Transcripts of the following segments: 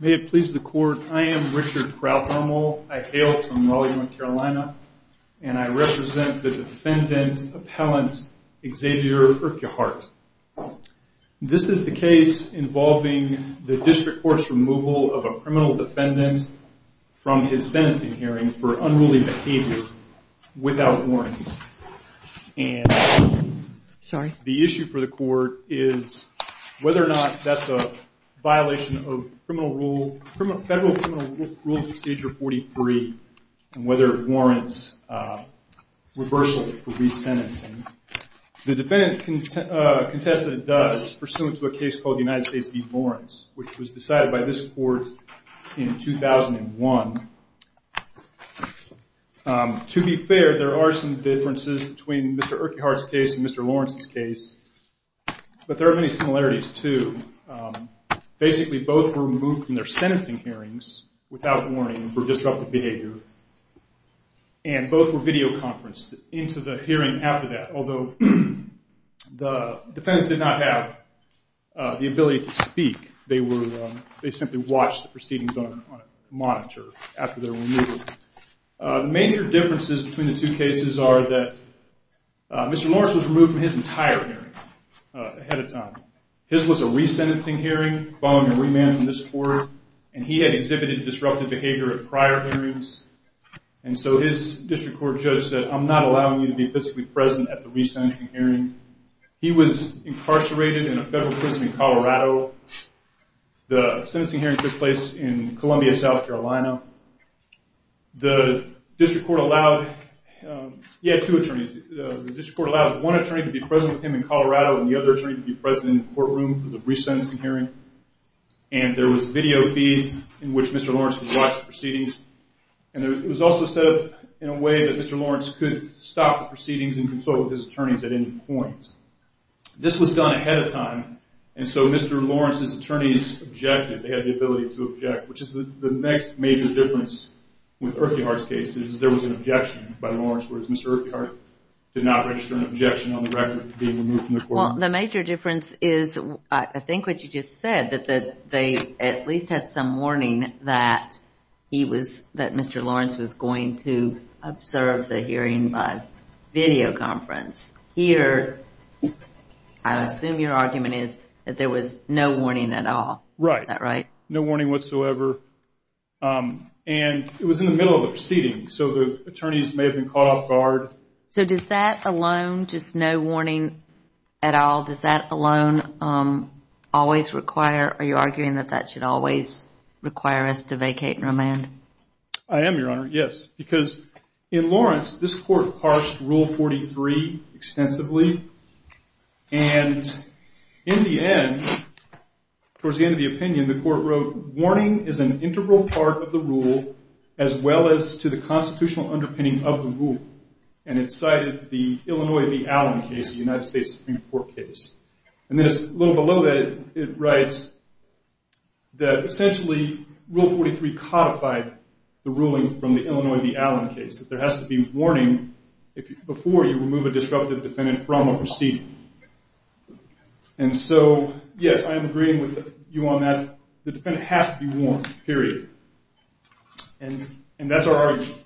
May it please the court, I am Richard Kralhommel. I hail from Raleigh, North Carolina, and I represent the defendant, appellant Xavier Earquhart. This is the case involving the district court's removal of a criminal defendant from his sentencing hearing for unruly behavior without warning. And the issue for the court is whether or not that's a violation of federal criminal rule procedure 43 and whether it warrants reversal for resentencing. The defendant contested it does pursuant to a case called the United States v. Lawrence, which was decided by this court in 2001. To be fair, there are some differences between Mr. Earquhart's case and Mr. Lawrence's case, but there are many similarities, too. Basically, both were removed from their sentencing hearings without warning for disruptive behavior, and both were videoconferenced into the hearing after that. Although the defendants did not have the ability to speak, they simply watched the proceedings on a monitor after they were removed. The major differences between the two cases are that Mr. Lawrence was removed from his entire hearing ahead of time. His was a resentencing hearing following a remand from this court, and he had exhibited disruptive behavior at prior hearings. And so his district court judge said, I'm not allowing you to be physically present at the resentencing hearing. He was incarcerated in a federal prison in Colorado. The sentencing hearing took place in Columbia, South Carolina. The district court allowed one attorney to be present with him in Colorado and the other attorney to be present in the courtroom for the resentencing hearing. And there was video feed in which Mr. Lawrence watched the proceedings, and it was also said in a way that Mr. Lawrence could stop the proceedings and consult with his attorneys at any point. This was done ahead of time, and so Mr. Lawrence's attorneys objected. They had the ability to object, which is the next major difference with Earquhart's case. There was an objection by Lawrence, whereas Mr. Earquhart did not register an objection on the record of being removed from the courtroom. Well, the major difference is, I think what you just said, that they at least had some warning that Mr. Lawrence was going to observe the hearing by video conference. Here, I assume your argument is that there was no warning at all. Is that right? Right. No warning whatsoever. And it was in the middle of the proceedings, so the attorneys may have been caught off guard. So does that alone, just no warning at all, does that alone always require, are you arguing that that should always require us to vacate and remand? I am, Your Honor, yes. Because in Lawrence, this court parsed Rule 43 extensively, and in the end, towards the end of the opinion, the court wrote, warning is an integral part of the rule, as well as to the constitutional underpinning of the rule. And it cited the Illinois v. Allen case, the United States Supreme Court case. And then just a little below that, it writes that essentially, Rule 43 codified the ruling from the Illinois v. Allen case, that there has to be warning before you remove a disruptive defendant from a proceeding. And so, yes, I am agreeing with you on that. The defendant has to be warned, period. And that's our argument.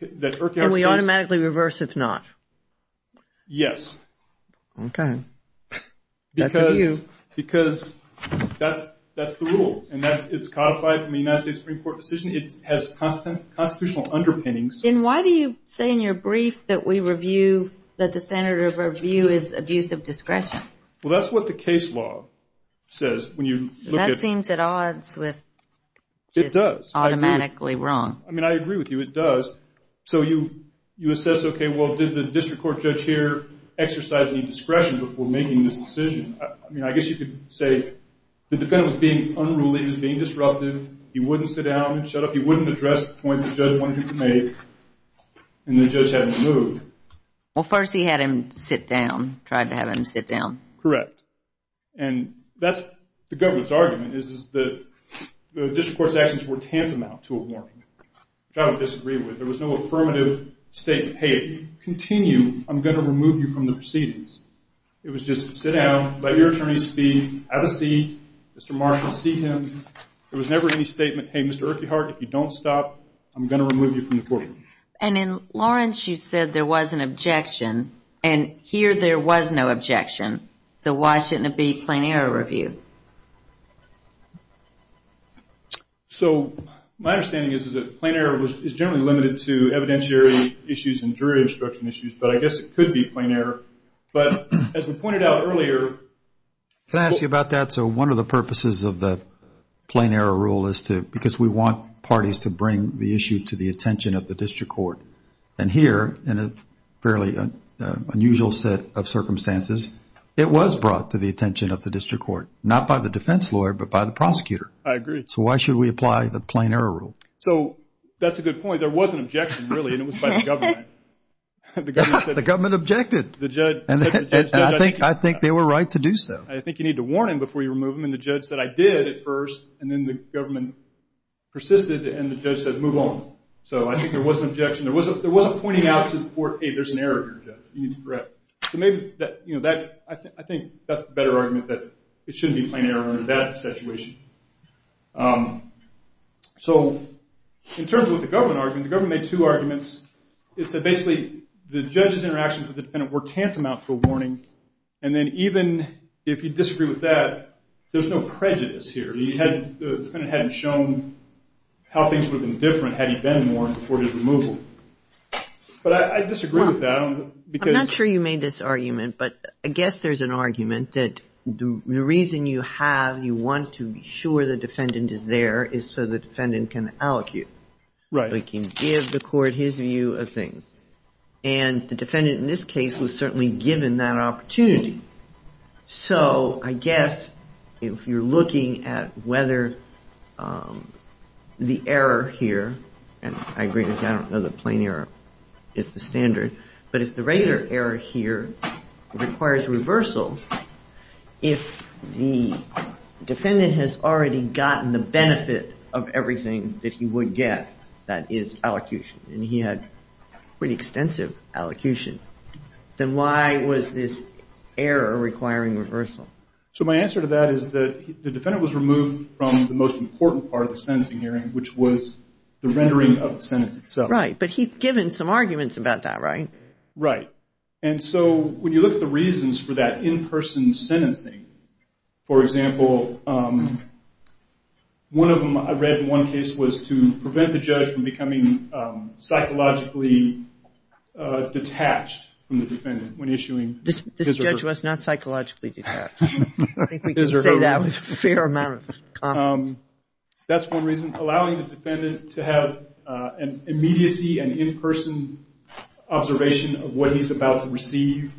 Can we automatically reverse if not? Yes. Okay. That's a view. Because that's the rule, and it's codified from the United States Supreme Court decision. It has constitutional underpinnings. Then why do you say in your brief that we review, that the standard of review is abuse of discretion? Well, that's what the case law says. That seems at odds with just automatically wrong. It does. I mean, I agree with you. It does. So you assess, okay, well, did the district court judge here exercise any discretion before making this decision? I mean, I guess you could say the defendant was being unruly, he was being disruptive, he wouldn't sit down and shut up, he wouldn't address the point the judge wanted him to make, and the judge had him moved. Well, first he had him sit down, tried to have him sit down. Correct. And that's the government's argument, is that the district court's actions were tantamount to a warning, which I would disagree with. There was no affirmative statement. Hey, continue, I'm going to remove you from the proceedings. It was just sit down, let your attorney speak, have a seat, Mr. Marshall, seek him. There was never any statement, hey, Mr. Urquhart, if you don't stop, I'm going to remove you from the court. And in Lawrence, you said there was an objection, and here there was no objection. So why shouldn't it be a plain error review? So my understanding is that plain error is generally limited to evidentiary issues and jury instruction issues, but I guess it could be plain error. But as we pointed out earlier – Can I ask you about that? So one of the purposes of the plain error rule is to – because we want parties to bring the issue to the attention of the district court. And here, in a fairly unusual set of circumstances, it was brought to the attention of the district court, not by the defense lawyer, but by the prosecutor. I agree. So why should we apply the plain error rule? So that's a good point. There was an objection, really, and it was by the government. The government objected. I think they were right to do so. I think you need to warn him before you remove him, and the judge said, I did at first, and then the government persisted, and the judge said, move on. So I think there was an objection. There wasn't pointing out to the court, hey, there's an error here, Judge. You need to correct. So maybe that – I think that's the better argument, that it shouldn't be a plain error under that situation. So in terms of the government argument, the government made two arguments. It said, basically, the judge's interactions with the defendant were tantamount to a warning, and then even if you disagree with that, there's no prejudice here. The defendant hadn't shown how things would have been different had he been warned before his removal. But I disagree with that. I'm not sure you made this argument, but I guess there's an argument that the reason you have, you want to be sure the defendant is there, is so the defendant can allocate. Right. He can give the court his view of things. And the defendant in this case was certainly given that opportunity. So I guess if you're looking at whether the error here, and I agree with you, I don't know that plain error is the standard, but if the regular error here requires reversal, if the defendant has already gotten the benefit of everything that he would get, that is allocution, and he had pretty extensive allocution, then why was this error requiring reversal? So my answer to that is that the defendant was removed from the most important part of the sentencing hearing, which was the rendering of the sentence itself. Right, but he'd given some arguments about that, right? Right. And so when you look at the reasons for that in-person sentencing, for example, one of them I read in one case was to prevent the judge from becoming psychologically detached from the defendant when issuing. This judge was not psychologically detached. I think we can say that with a fair amount of confidence. That's one reason. Allowing the defendant to have an immediacy and in-person observation of what he's about to receive,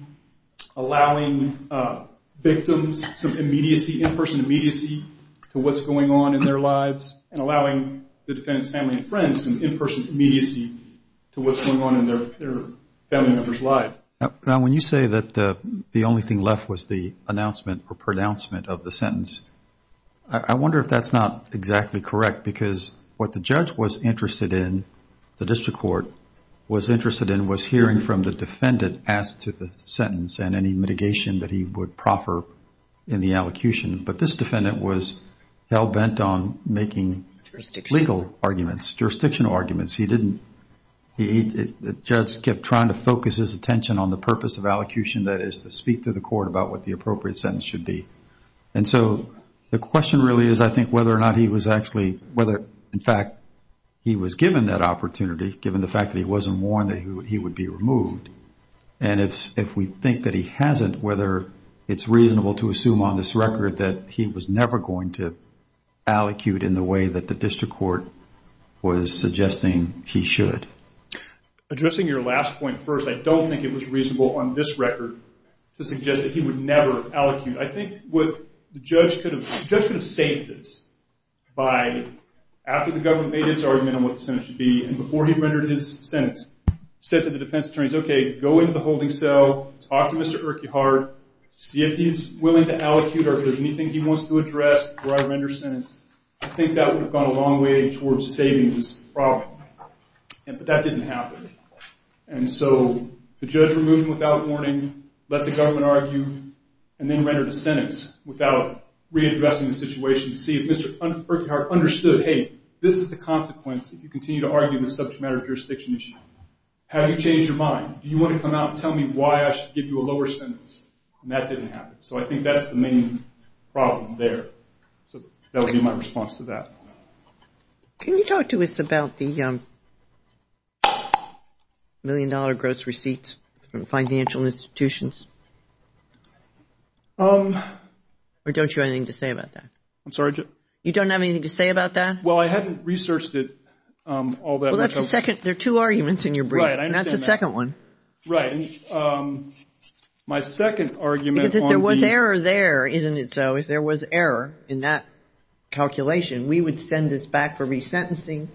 allowing victims some immediacy, in-person immediacy to what's going on in their lives, and allowing the defendant's family and friends some in-person immediacy to what's going on in their family members' lives. Now, when you say that the only thing left was the announcement or pronouncement of the sentence, I wonder if that's not exactly correct, because what the judge was interested in, the district court was interested in, was hearing from the defendant as to the sentence and any mitigation that he would proffer in the allocution. But this defendant was hell-bent on making legal arguments, jurisdictional arguments. He didn't, the judge kept trying to focus his attention on the purpose of allocution, that is to speak to the court about what the appropriate sentence should be. And so the question really is, I think, whether or not he was actually, whether, in fact, he was given that opportunity, given the fact that he wasn't warned that he would be removed, and if we think that he hasn't, whether it's reasonable to assume on this record that he was never going to allocute in the way that the district court was suggesting he should. Addressing your last point first, I don't think it was reasonable on this record to suggest that he would never allocute. I think what the judge could have, the judge could have saved this by, after the government made its argument on what the sentence should be, and before he rendered his sentence, said to the defense attorneys, okay, go into the holding cell, talk to Mr. Urquhart, see if he's willing to allocute or if there's anything he wants to address before I render a sentence. I think that would have gone a long way towards saving this problem. But that didn't happen. And so the judge removed him without warning, let the government argue, and then rendered a sentence without readdressing the situation to see if Mr. Urquhart understood, hey, this is the consequence if you continue to argue this subject matter jurisdiction issue. Have you changed your mind? Do you want to come out and tell me why I should give you a lower sentence? And that didn't happen. So I think that's the main problem there. So that would be my response to that. Can you talk to us about the million-dollar gross receipts from financial institutions? Or don't you have anything to say about that? I'm sorry? You don't have anything to say about that? Well, I hadn't researched it all that much. Well, that's the second. There are two arguments in your brief. Right, I understand that. And that's the second one. Right. My second argument on the – Because if there was error there, isn't it so? If there was error in that calculation, we would send this back for resentencing.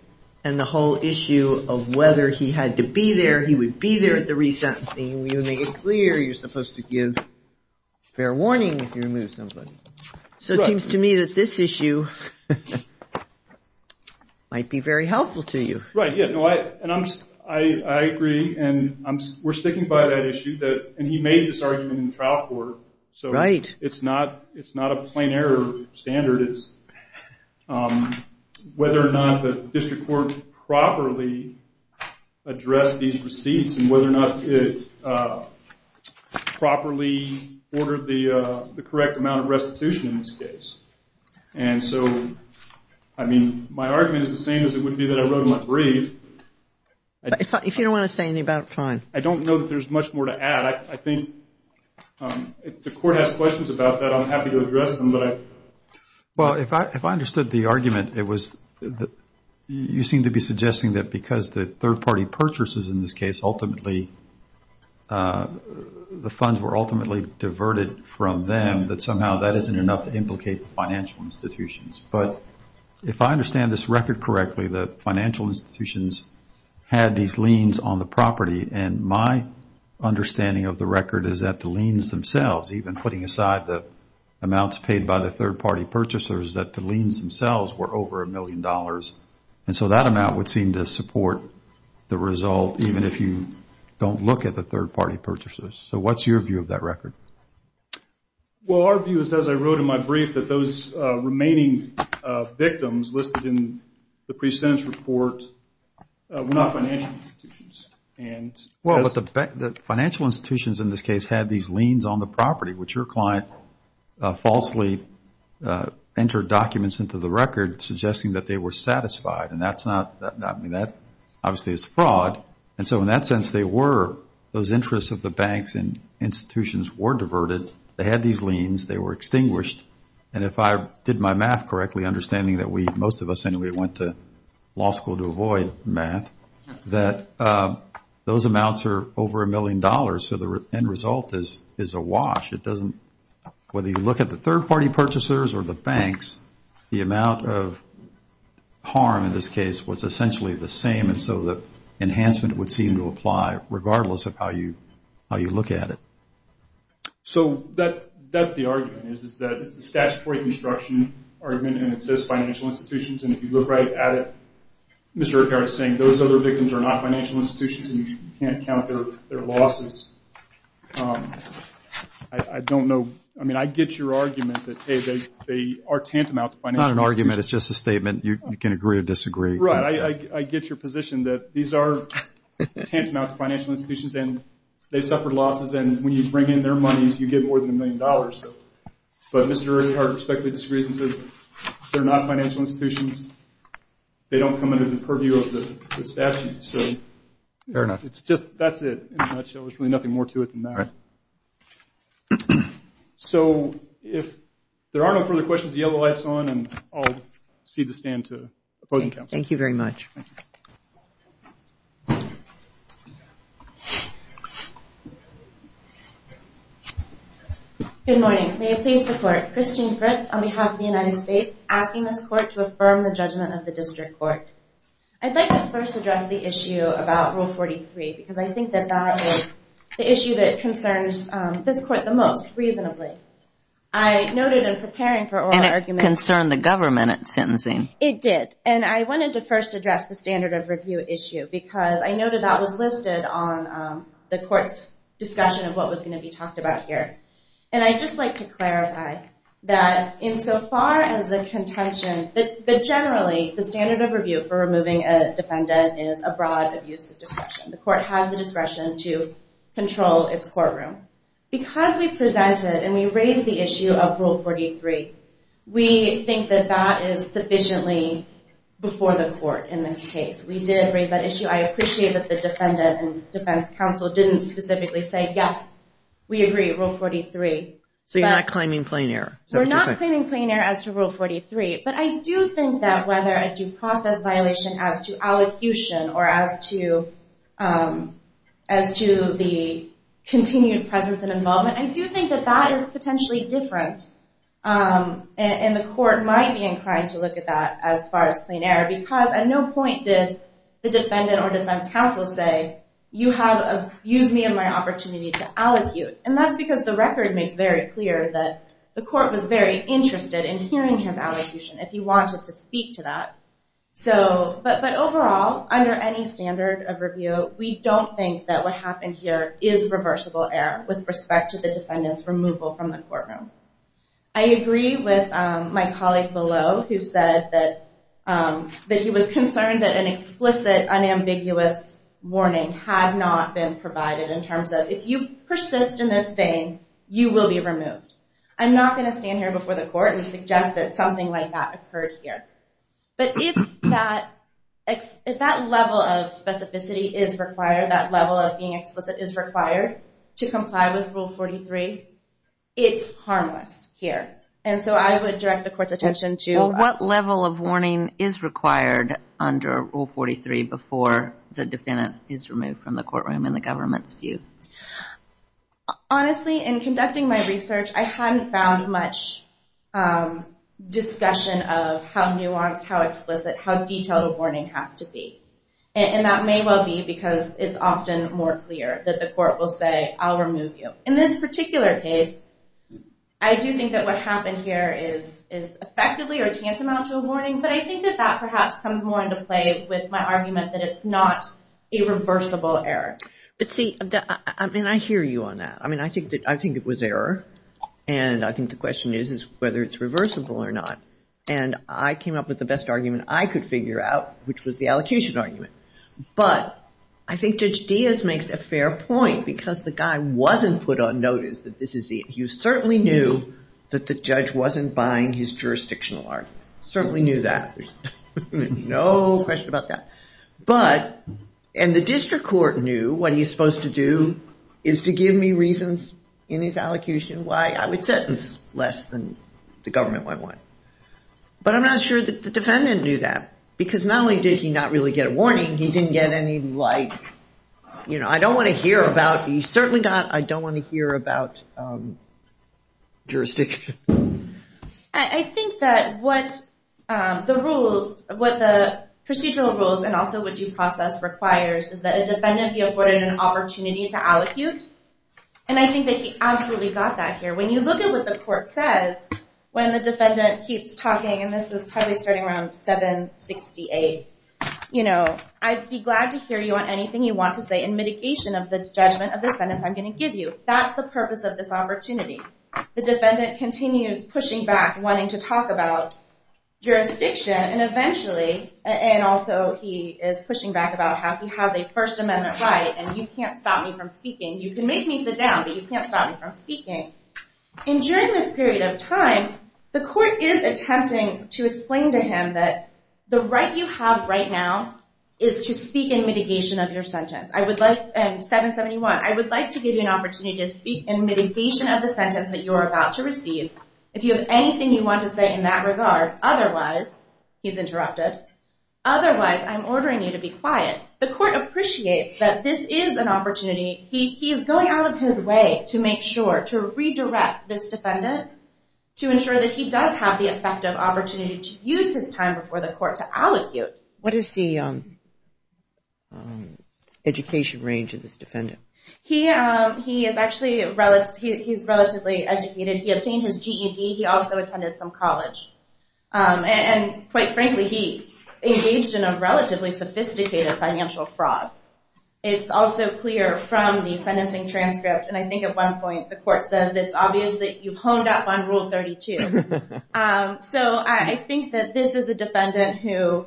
And the whole issue of whether he had to be there, he would be there at the resentencing. We would make it clear you're supposed to give fair warning if you remove somebody. So it seems to me that this issue might be very helpful to you. Right, yeah. And I agree. And we're sticking by that issue. And he made this argument in trial court. Right. It's not a plain error standard. It's whether or not the district court properly addressed these receipts and whether or not it properly ordered the correct amount of restitution in this case. And so, I mean, my argument is the same as it would be that I wrote in my brief. If you don't want to say anything about it, fine. But I think if the court has questions about that, I'm happy to address them. Well, if I understood the argument, it was that you seem to be suggesting that because the third-party purchases in this case ultimately – the funds were ultimately diverted from them, that somehow that isn't enough to implicate the financial institutions. But if I understand this record correctly, the financial institutions had these liens on the property. And my understanding of the record is that the liens themselves, even putting aside the amounts paid by the third-party purchasers, that the liens themselves were over a million dollars. And so that amount would seem to support the result even if you don't look at the third-party purchases. So what's your view of that record? Well, our view is, as I wrote in my brief, that those remaining victims listed in the pre-sentence report were not financial institutions. Well, the financial institutions in this case had these liens on the property, which your client falsely entered documents into the record suggesting that they were satisfied. And that's not – I mean, that obviously is fraud. And so in that sense, they were – those interests of the banks and institutions were diverted. They had these liens. They were extinguished. And if I did my math correctly, understanding that most of us anyway went to law school to avoid math, that those amounts are over a million dollars. So the end result is a wash. It doesn't – whether you look at the third-party purchasers or the banks, the amount of harm in this case was essentially the same. And so the enhancement would seem to apply regardless of how you look at it. So that's the argument, is that it's a statutory construction argument and it says financial institutions. And if you look right at it, Mr. Urquhart is saying those other victims are not financial institutions and you can't count their losses. I don't know – I mean, I get your argument that, hey, they are tantamount to financial institutions. It's not an argument. It's just a statement. You can agree or disagree. Right. I get your position that these are tantamount to financial institutions and they suffered losses. And when you bring in their money, you get more than a million dollars. But Mr. Urquhart respectfully disagrees and says they're not financial institutions. They don't come under the purview of the statute. Fair enough. That's it in a nutshell. There's really nothing more to it than that. Right. So if there are no further questions, the yellow light's on, and I'll cede the stand to opposing counsel. Thank you very much. Good morning. May it please the Court. Christine Fritz on behalf of the United States, asking this Court to affirm the judgment of the District Court. I'd like to first address the issue about Rule 43 because I think that that is the issue that concerns this Court the most, reasonably. I noted in preparing for oral arguments – And it concerned the government in sentencing. It did. And I wanted to first address the standard of review issue because I noted that was listed on the Court's discussion of what was going to be talked about here. And I'd just like to clarify that insofar as the contention – that generally the standard of review for removing a defendant is a broad abuse of discretion. The Court has the discretion to control its courtroom. Because we presented and we raised the issue of Rule 43, we think that that is sufficiently before the Court in this case. We did raise that issue. I appreciate that the defendant and defense counsel didn't specifically say, yes, we agree, Rule 43. So you're not claiming plain error. We're not claiming plain error as to Rule 43. But I do think that whether a due process violation as to allocution or as to the continued presence and involvement, I do think that that is potentially different. And the Court might be inclined to look at that as far as plain error because at no point did the defendant or defense counsel say, you have abused me of my opportunity to allocute. And that's because the record makes very clear that the Court was very interested in hearing his allocution if he wanted to speak to that. But overall, under any standard of review, we don't think that what happened here is reversible error with respect to the defendant's removal from the courtroom. I agree with my colleague below who said that he was concerned that an explicit unambiguous warning had not been provided in terms of, if you persist in this thing, you will be removed. I'm not going to stand here before the Court and suggest that something like that occurred here. But if that level of specificity is required, that level of being explicit is required to comply with Rule 43, it's harmless here. And so I would direct the Court's attention to... Well, what level of warning is required under Rule 43 before the defendant is removed from the courtroom in the government's view? Honestly, in conducting my research, I hadn't found much discussion of how nuanced, how explicit, how detailed a warning has to be. And that may well be because it's often more clear that the Court will say, I'll remove you. In this particular case, I do think that what happened here is effectively or tantamount to a warning, but I think that that perhaps comes more into play with my argument that it's not a reversible error. But see, I mean, I hear you on that. I mean, I think it was error, and I think the question is whether it's reversible or not. And I came up with the best argument I could figure out, which was the allocution argument. But I think Judge Diaz makes a fair point because the guy wasn't put on notice that this is it. He certainly knew that the judge wasn't buying his jurisdictional argument. Certainly knew that. No question about that. But... And the district court knew what he was supposed to do is to give me reasons in his allocution why I would sentence less than the government might want. But I'm not sure that the defendant knew that because not only did he not really get a warning, he didn't get any, like... You know, I don't want to hear about... He certainly got, I don't want to hear about jurisdiction. I think that what the rules, what the procedural rules and also what due process requires is that a defendant be afforded an opportunity to allocute. And I think that he absolutely got that here. When you look at what the court says, when the defendant keeps talking, and this is probably starting around 768, I'd be glad to hear you on anything you want to say in mitigation of the judgment of the sentence I'm going to give you. That's the purpose of this opportunity. The defendant continues pushing back, wanting to talk about jurisdiction, and eventually, and also he is pushing back about how he has a First Amendment right, and you can't stop me from speaking. You can make me sit down, but you can't stop me from speaking. And during this period of time, the court is attempting to explain to him that the right you have right now is to speak in mitigation of your sentence. And 771, I would like to give you an opportunity to speak in mitigation of the sentence that you are about to receive if you have anything you want to say in that regard. Otherwise, he's interrupted. Otherwise, I'm ordering you to be quiet. The court appreciates that this is an opportunity. He is going out of his way to make sure, to redirect this defendant to ensure that he does have the effective opportunity to use his time before the court to allocute. What is the education range of this defendant? He is actually relatively educated. He obtained his GED. He also attended some college. And quite frankly, he engaged in a relatively sophisticated financial fraud. It's also clear from the sentencing transcript, and I think at one point the court says, it's obvious that you've honed up on Rule 32. So I think that this is a defendant who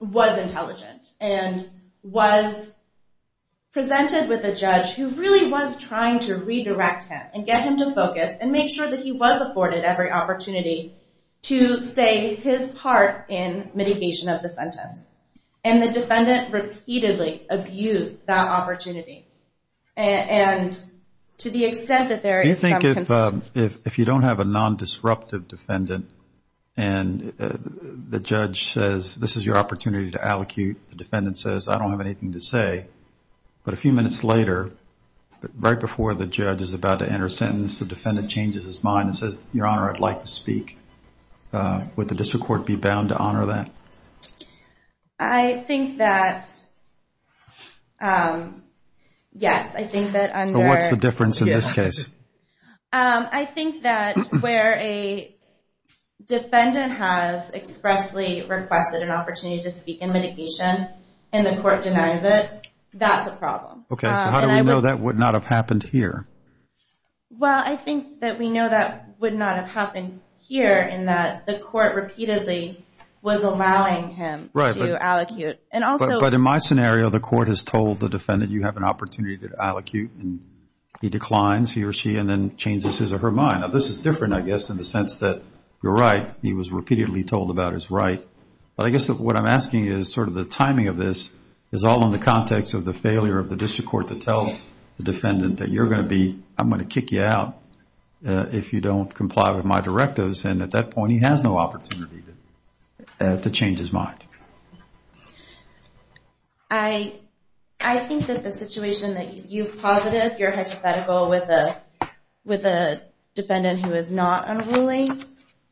was intelligent and was presented with a judge who really was trying to redirect him and get him to focus and make sure that he was afforded every opportunity to say his part in mitigation of the sentence. And the defendant repeatedly abused that opportunity. And to the extent that there is some... If you don't have a non-disruptive defendant and the judge says, this is your opportunity to allocate, the defendant says, I don't have anything to say, but a few minutes later, right before the judge is about to enter a sentence, the defendant changes his mind and says, Your Honor, I'd like to speak. Would the district court be bound to honor that? I think that, yes. I think that under... So what's the difference in this case? I think that where a defendant has expressly requested an opportunity to speak in mitigation and the court denies it, that's a problem. Okay, so how do we know that would not have happened here? Well, I think that we know that would not have happened here in that the court repeatedly was allowing him to allocate. But in my scenario, the court has told the defendant, you have an opportunity to allocate, and he declines, he or she, and then changes his or her mind. Now, this is different, I guess, in the sense that you're right. He was repeatedly told about his right. But I guess what I'm asking is sort of the timing of this is all in the context of the failure of the district court to tell the defendant that you're going to be... I'm going to kick you out if you don't comply with my directives. And at that point, he has no opportunity to change his mind. I think that the situation that you've posited, you're hypothetical with a defendant who is not unruly,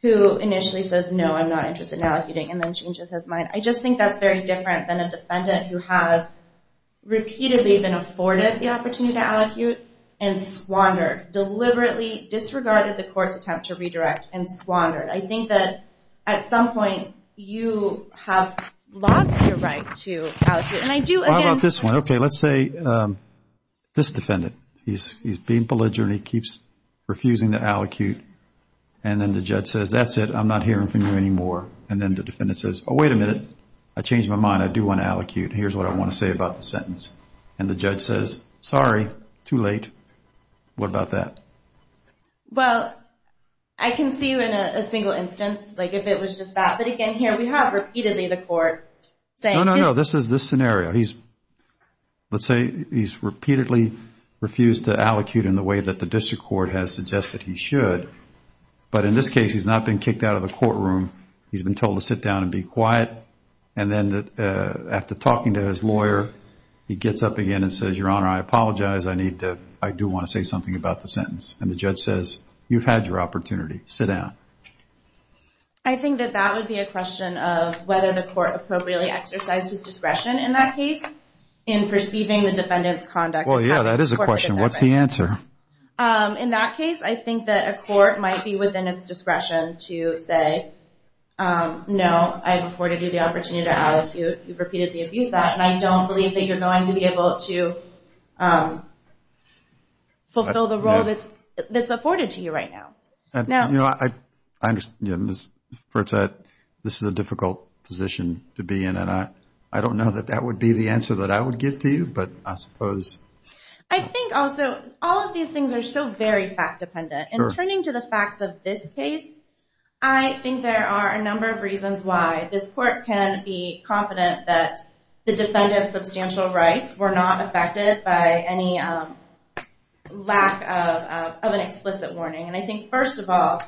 who initially says, no, I'm not interested in allocuting, and then changes his mind. I just think that's very different than a defendant who has repeatedly been afforded the opportunity to allocate and squandered, deliberately disregarded the court's attempt to redirect and squandered. I think that at some point, you have lost your right to allocate. And I do, again... Well, how about this one? Okay, let's say this defendant. He's being belligerent. He keeps refusing to allocate. And then the judge says, that's it. I'm not hearing from you anymore. And then the defendant says, oh, wait a minute. I changed my mind. I do want to allocate. Here's what I want to say about the sentence. And the judge says, sorry, too late. What about that? Well, I can see you in a single instance, like if it was just that. But again, here we have repeatedly the court saying... No, no, no. This is this scenario. Let's say he's repeatedly refused to allocate in the way that the district court has suggested he should. But in this case, he's not been kicked out of the courtroom. He's been told to sit down and be quiet. And then after talking to his lawyer, he gets up again and says, Your Honor, I apologize. I do want to say something about the sentence. And the judge says, you've had your opportunity. Sit down. I think that that would be a question of whether the court appropriately exercised his discretion in that case in perceiving the defendant's conduct as having the court... Well, yeah, that is a question. What's the answer? In that case, I think that a court might be within its discretion to say, no, I've afforded you the opportunity to allocate. You've repeated the abuse act, and I don't believe that you're going to be able to fulfill the role that's afforded to you right now. You know, I understand. This is a difficult position to be in, and I don't know that that would be the answer that I would give to you, but I suppose... I think also all of these things are so very fact-dependent. And turning to the facts of this case, I think there are a number of reasons why this court can be confident that the defendant's substantial rights were not affected by any lack of an explicit warning. And I think, first of all,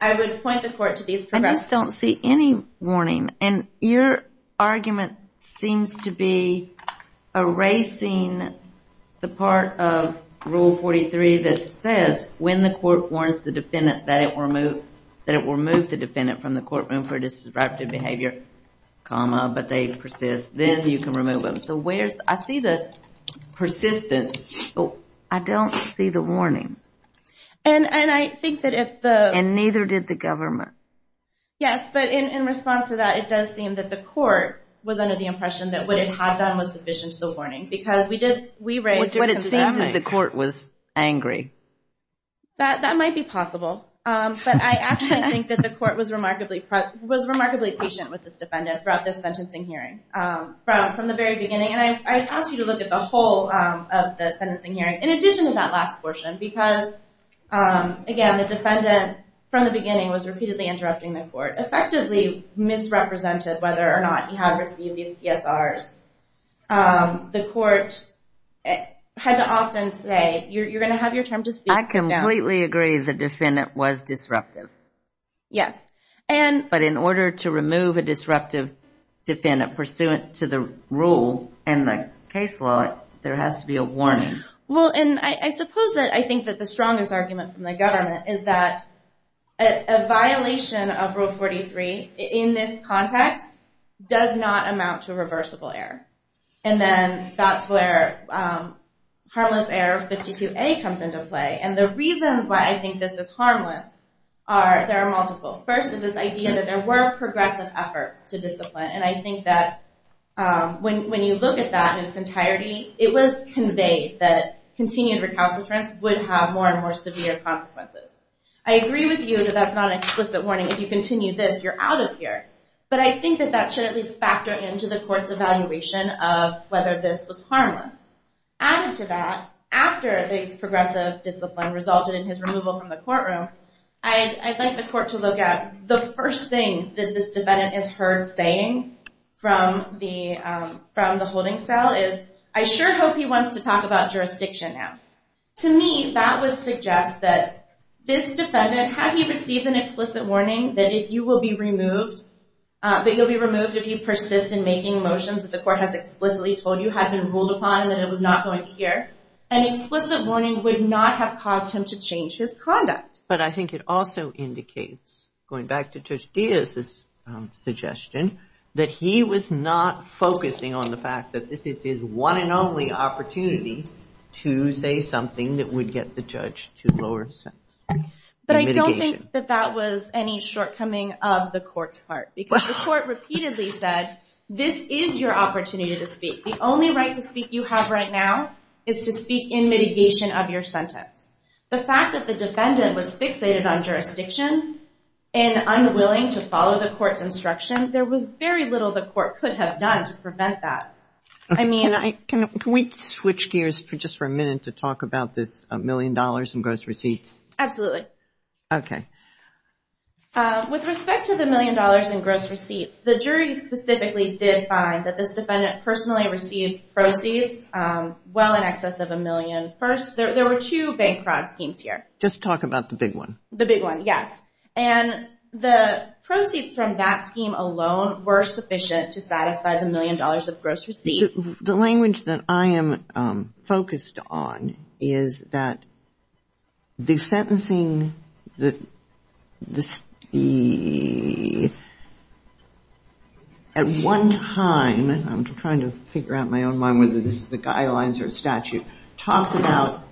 I would point the court to these... I just don't see any warning. And your argument seems to be erasing the part of Rule 43 that says, when the court warns the defendant that it will remove the defendant from the courtroom for disruptive behavior, comma, but they persist, then you can remove them. So I see the persistence. I don't see the warning. And I think that if the... And neither did the government. Yes, but in response to that, it does seem that the court was under the impression that what it had done was sufficient to the warning, because we raised... But it seems that the court was angry. That might be possible. But I actually think that the court was remarkably patient with this defendant throughout this sentencing hearing, from the very beginning. And I've asked you to look at the whole of the sentencing hearing, in addition to that last portion, because, again, the defendant, from the beginning, was repeatedly interrupting the court, effectively misrepresented whether or not he had received these PSRs. The court had to often say, you're going to have your term to speak. I completely agree the defendant was disruptive. Yes. But in order to remove a disruptive defendant pursuant to the rule in the case law, there has to be a warning. Well, and I suppose that I think that the strongest argument from the government is that a violation of Rule 43, in this context, does not amount to reversible error. And then that's where Harmless Error 52A comes into play. And the reasons why I think this is harmless, there are multiple. First is this idea that there were progressive efforts to discipline. And I think that when you look at that in its entirety, it was conveyed that continued recalcitrance would have more and more severe consequences. I agree with you that that's not an explicit warning. If you continue this, you're out of here. But I think that that should at least factor into the court's evaluation of whether this was harmless. Added to that, after this progressive discipline resulted in his removal from the courtroom, I'd like the court to look at the first thing that this defendant is heard saying from the holding cell is, I sure hope he wants to talk about jurisdiction now. To me, that would suggest that this defendant, had he received an explicit warning that you will be removed, that you'll be removed if you persist in making motions that the court has explicitly told you have been ruled upon and that it was not going to hear, an explicit warning would not have caused him to change his conduct. But I think it also indicates, going back to Judge Diaz's suggestion, that he was not focusing on the fact that this is his one and only opportunity to say something that would get the judge to lower his sentence. But I don't think that that was any shortcoming of the court's part. Because the court repeatedly said, this is your opportunity to speak. The only right to speak you have right now is to speak in mitigation of your sentence. The fact that the defendant was fixated on jurisdiction and unwilling to follow the court's instruction, there was very little the court could have done to prevent that. Can we switch gears just for a minute to talk about this million dollars in gross receipts? Absolutely. With respect to the million dollars in gross receipts, the jury specifically did find that this defendant personally received proceeds well in excess of a million. First, there were two bank fraud schemes here. Just talk about the big one. The big one, yes. And the proceeds from that scheme alone were sufficient to satisfy the million dollars of gross receipts. The language that I am focused on is that the sentencing, at one time, I'm trying to figure out in my own mind whether this is a guidelines or a statute, talks about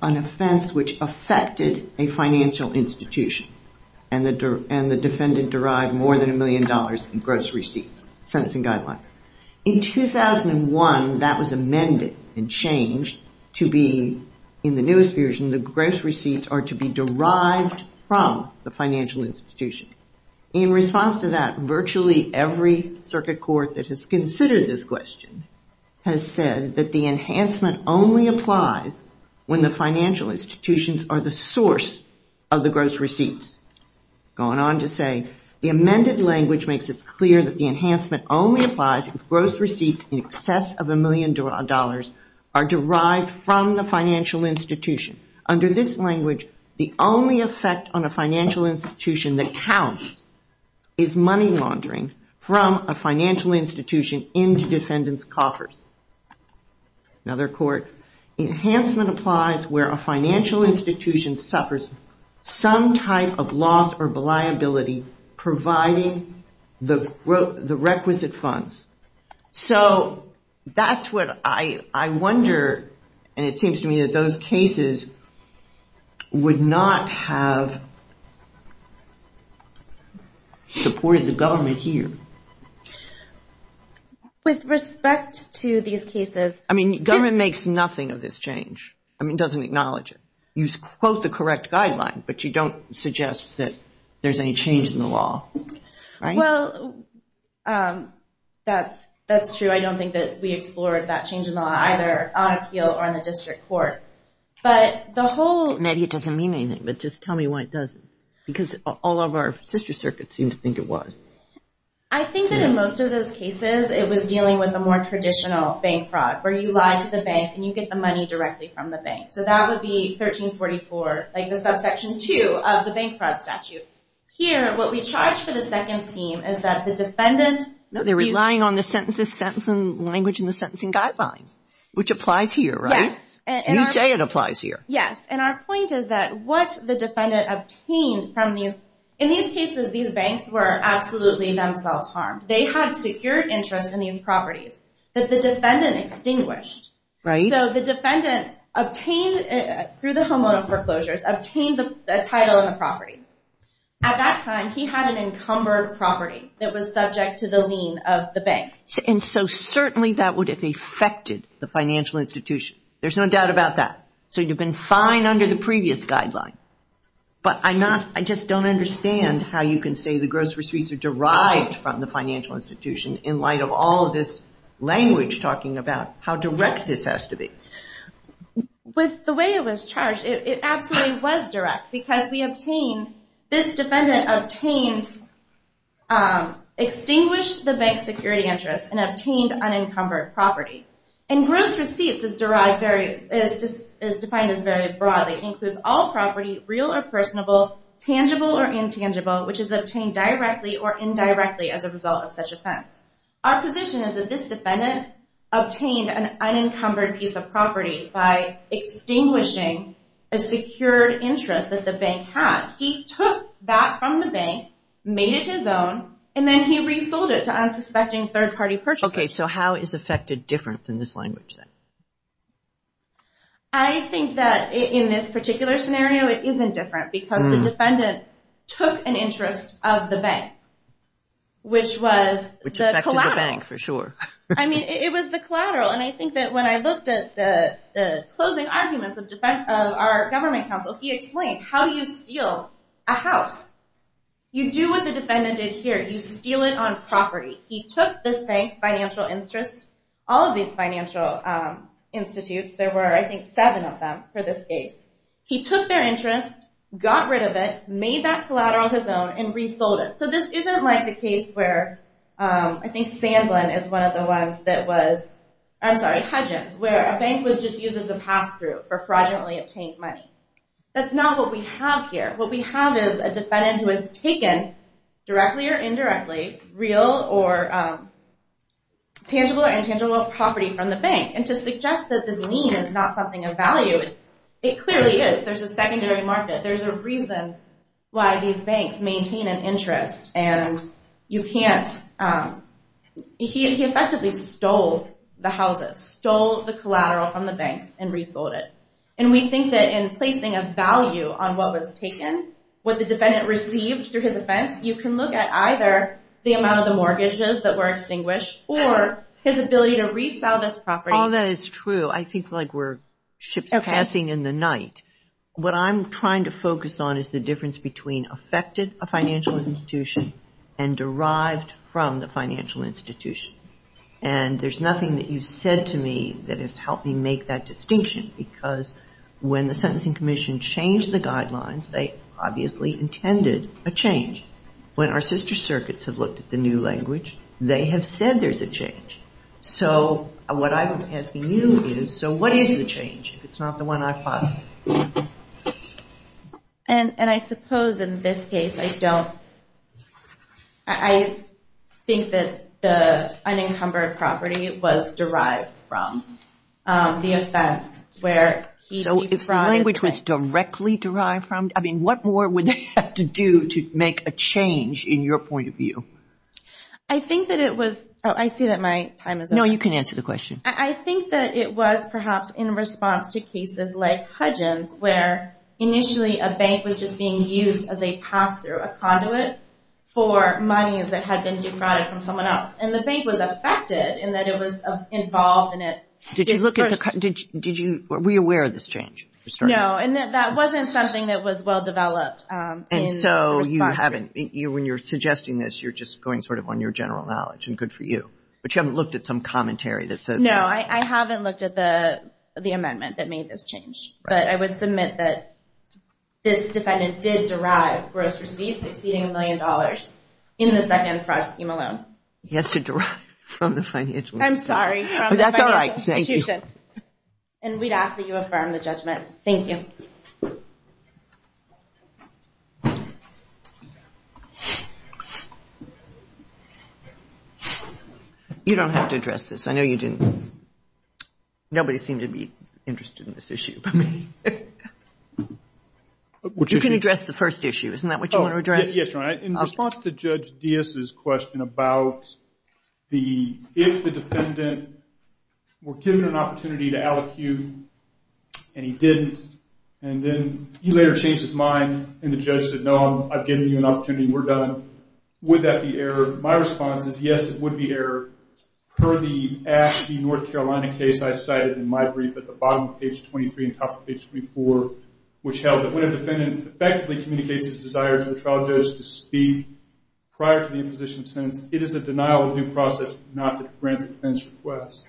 an offense which affected a financial institution. And the defendant derived more than a million dollars in gross receipts, sentencing guidelines. In 2001, that was amended and changed to be, in the newest version, the gross receipts are to be derived from the financial institution. In response to that, virtually every circuit court that has considered this question has said that the enhancement only applies when the financial institutions are the source of the gross receipts. Going on to say, the amended language makes it clear that the enhancement only applies if gross receipts in excess of a million dollars are derived from the financial institution. Under this language, the only effect on a financial institution that counts is money laundering from a financial institution into defendants' coffers. Another court, providing the requisite funds. So that's what I wonder, and it seems to me that those cases would not have supported the government here. With respect to these cases... I mean, government makes nothing of this change. I mean, it doesn't acknowledge it. You quote the correct guideline, but you don't suggest that there's any change in the law. Well, that's true. I don't think that we explored that change in the law either on appeal or in the district court. Maybe it doesn't mean anything, but just tell me why it doesn't. Because all of our sister circuits seem to think it was. I think that in most of those cases, it was dealing with a more traditional bank fraud where you lie to the bank and you get the money directly from the bank. So that would be 1344, like the subsection 2 of the bank fraud statute. Here, what we charge for the second theme is that the defendant... No, they're relying on the Sentencing Language and the Sentencing Guidelines, which applies here, right? You say it applies here. Yes, and our point is that what the defendant obtained from these... In these cases, these banks were absolutely themselves harmed. They had secure interest in these properties that the defendant extinguished. So the defendant, through the hormonal foreclosures, obtained a title and a property. At that time, he had an encumbered property that was subject to the lien of the bank. And so certainly that would have affected the financial institution. There's no doubt about that. So you've been fined under the previous guideline. But I just don't understand how you can say the gross receipts are derived from the financial institution in light of all of this language talking about how direct this has to be. With the way it was charged, it absolutely was direct because this defendant extinguished the bank's security interest and obtained unencumbered property. And gross receipts is defined as very broad. It includes all property, real or personable, tangible or intangible, which is obtained directly or indirectly as a result of such offense. Our position is that this defendant obtained an unencumbered piece of property by extinguishing a secured interest that the bank had. He took that from the bank, made it his own, and then he resold it to unsuspecting third-party purchasers. Okay, so how is affected different than this language then? I think that in this particular scenario, it isn't different because the defendant took an interest of the bank, which was the collateral. Which affected the bank, for sure. I mean, it was the collateral, and I think that when I looked at the closing arguments of our government counsel, he explained how you steal a house. You do what the defendant did here. You steal it on property. He took this bank's financial interest, all of these financial institutes. There were, I think, seven of them for this case. He took their interest, got rid of it, made that collateral his own, and resold it. So this isn't like the case where I think Sandlin is one of the ones that was, I'm sorry, Hudgens, where a bank was just used as a pass-through for fraudulently obtained money. That's not what we have here. What we have is a defendant who has taken, directly or indirectly, real or tangible or intangible property from the bank. And to suggest that this lien is not something of value, it clearly is. There's a secondary market. There's a reason why these banks maintain an interest. And you can't... He effectively stole the houses, stole the collateral from the banks, and resold it. And we think that in placing a value on what was taken, what the defendant received through his offense, you can look at either the amount of the mortgages that were extinguished or his ability to resell this property. Oh, that is true. I think like we're ships passing in the night. What I'm trying to focus on is the difference between affected a financial institution and derived from the financial institution. And there's nothing that you've said to me that has helped me make that distinction because when the Sentencing Commission changed the guidelines, they obviously intended a change. When our sister circuits have looked at the new language, they have said there's a change. So what I'm asking you is, so what is the change, if it's not the one I posited? And I suppose in this case, I don't... I think that the unencumbered property was derived from the offense where he defrauded... If the language was directly derived from... I mean, what more would they have to do to make a change in your point of view? I think that it was... Oh, I see that my time is up. No, you can answer the question. I think that it was perhaps in response to cases like Hudgens where initially a bank was just being used as a pass-through, a conduit for monies that had been defrauded from someone else. And the bank was affected in that it was involved in it... Did you look at the... Were you aware of this change? No, and that wasn't something that was well-developed in response... And so you haven't... When you're suggesting this, you're just going sort of on your general knowledge, and good for you. But you haven't looked at some commentary that says... No, I haven't looked at the amendment that made this change. But I would submit that this defendant did derive gross receipts exceeding a million dollars in this back-end fraud scheme alone. He has to derive from the financial... I'm sorry, from the financial institution. And we'd ask that you affirm the judgment. Thank you. You don't have to address this. I know you didn't... Nobody seemed to be interested in this issue but me. You can address the first issue. Isn't that what you want to address? In response to Judge Diaz's question about the... If the defendant were given an opportunity to allocute and he didn't, and then he later changed his mind and the judge said, no, I've given you an opportunity. We're done. Would that be error? My response is yes, it would be error. Per the Ashby, North Carolina case I cited in my brief at the bottom of page 23 and top of page 24, which held that when a defendant effectively communicates his desire to the trial judge to speak prior to the imposition of sentence, it is a denial of due process not to grant the defendant's request.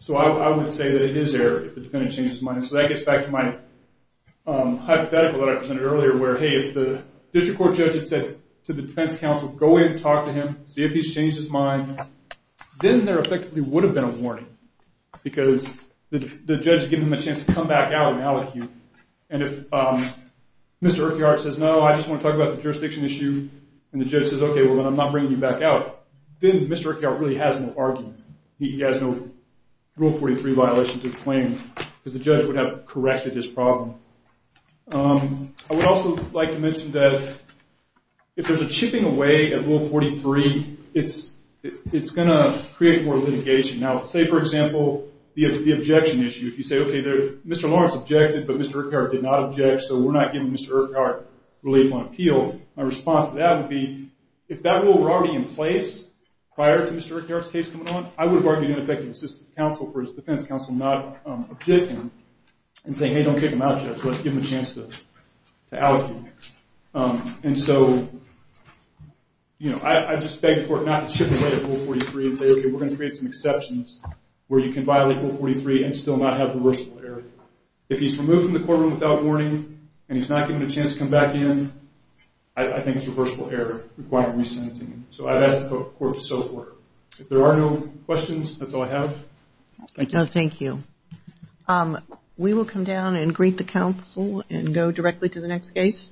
So I would say that it is error if the defendant changes his mind. So that gets back to my hypothetical that I presented earlier where, hey, if the district court judge had said to the defense counsel, go in and talk to him, see if he's changed his mind, then there effectively would have been a warning because the judge has given him a chance to come back out and allocate. And if Mr. Urquhart says, no, I just want to talk about the jurisdiction issue, and the judge says, okay, well, I'm not bringing you back out, then Mr. Urquhart really has no argument. He has no Rule 43 violation to the claim because the judge would have corrected his problem. I would also like to mention that if there's a chipping away at Rule 43, it's going to create more litigation. Now, say, for example, the objection issue. If you say, okay, Mr. Lawrence objected, but Mr. Urquhart did not object, so we're not giving Mr. Urquhart relief on appeal. My response to that would be, if that rule were already in place prior to Mr. Urquhart's case coming on, I would have argued in effect to the defense counsel not to object him and say, hey, don't kick him out, judge. Let's give him a chance to allocate. I just beg the court not to chip away at Rule 43 and say, okay, we're going to create some exceptions where you can violate Rule 43 and still not have reversible error. If he's removed from the courtroom without warning and he's not given a chance to come back in, I think it's reversible error requiring resentencing. I'd ask the court to so forth. If there are no questions, that's all I have. Thank you. We will come down and greet the counsel and go directly to the next case.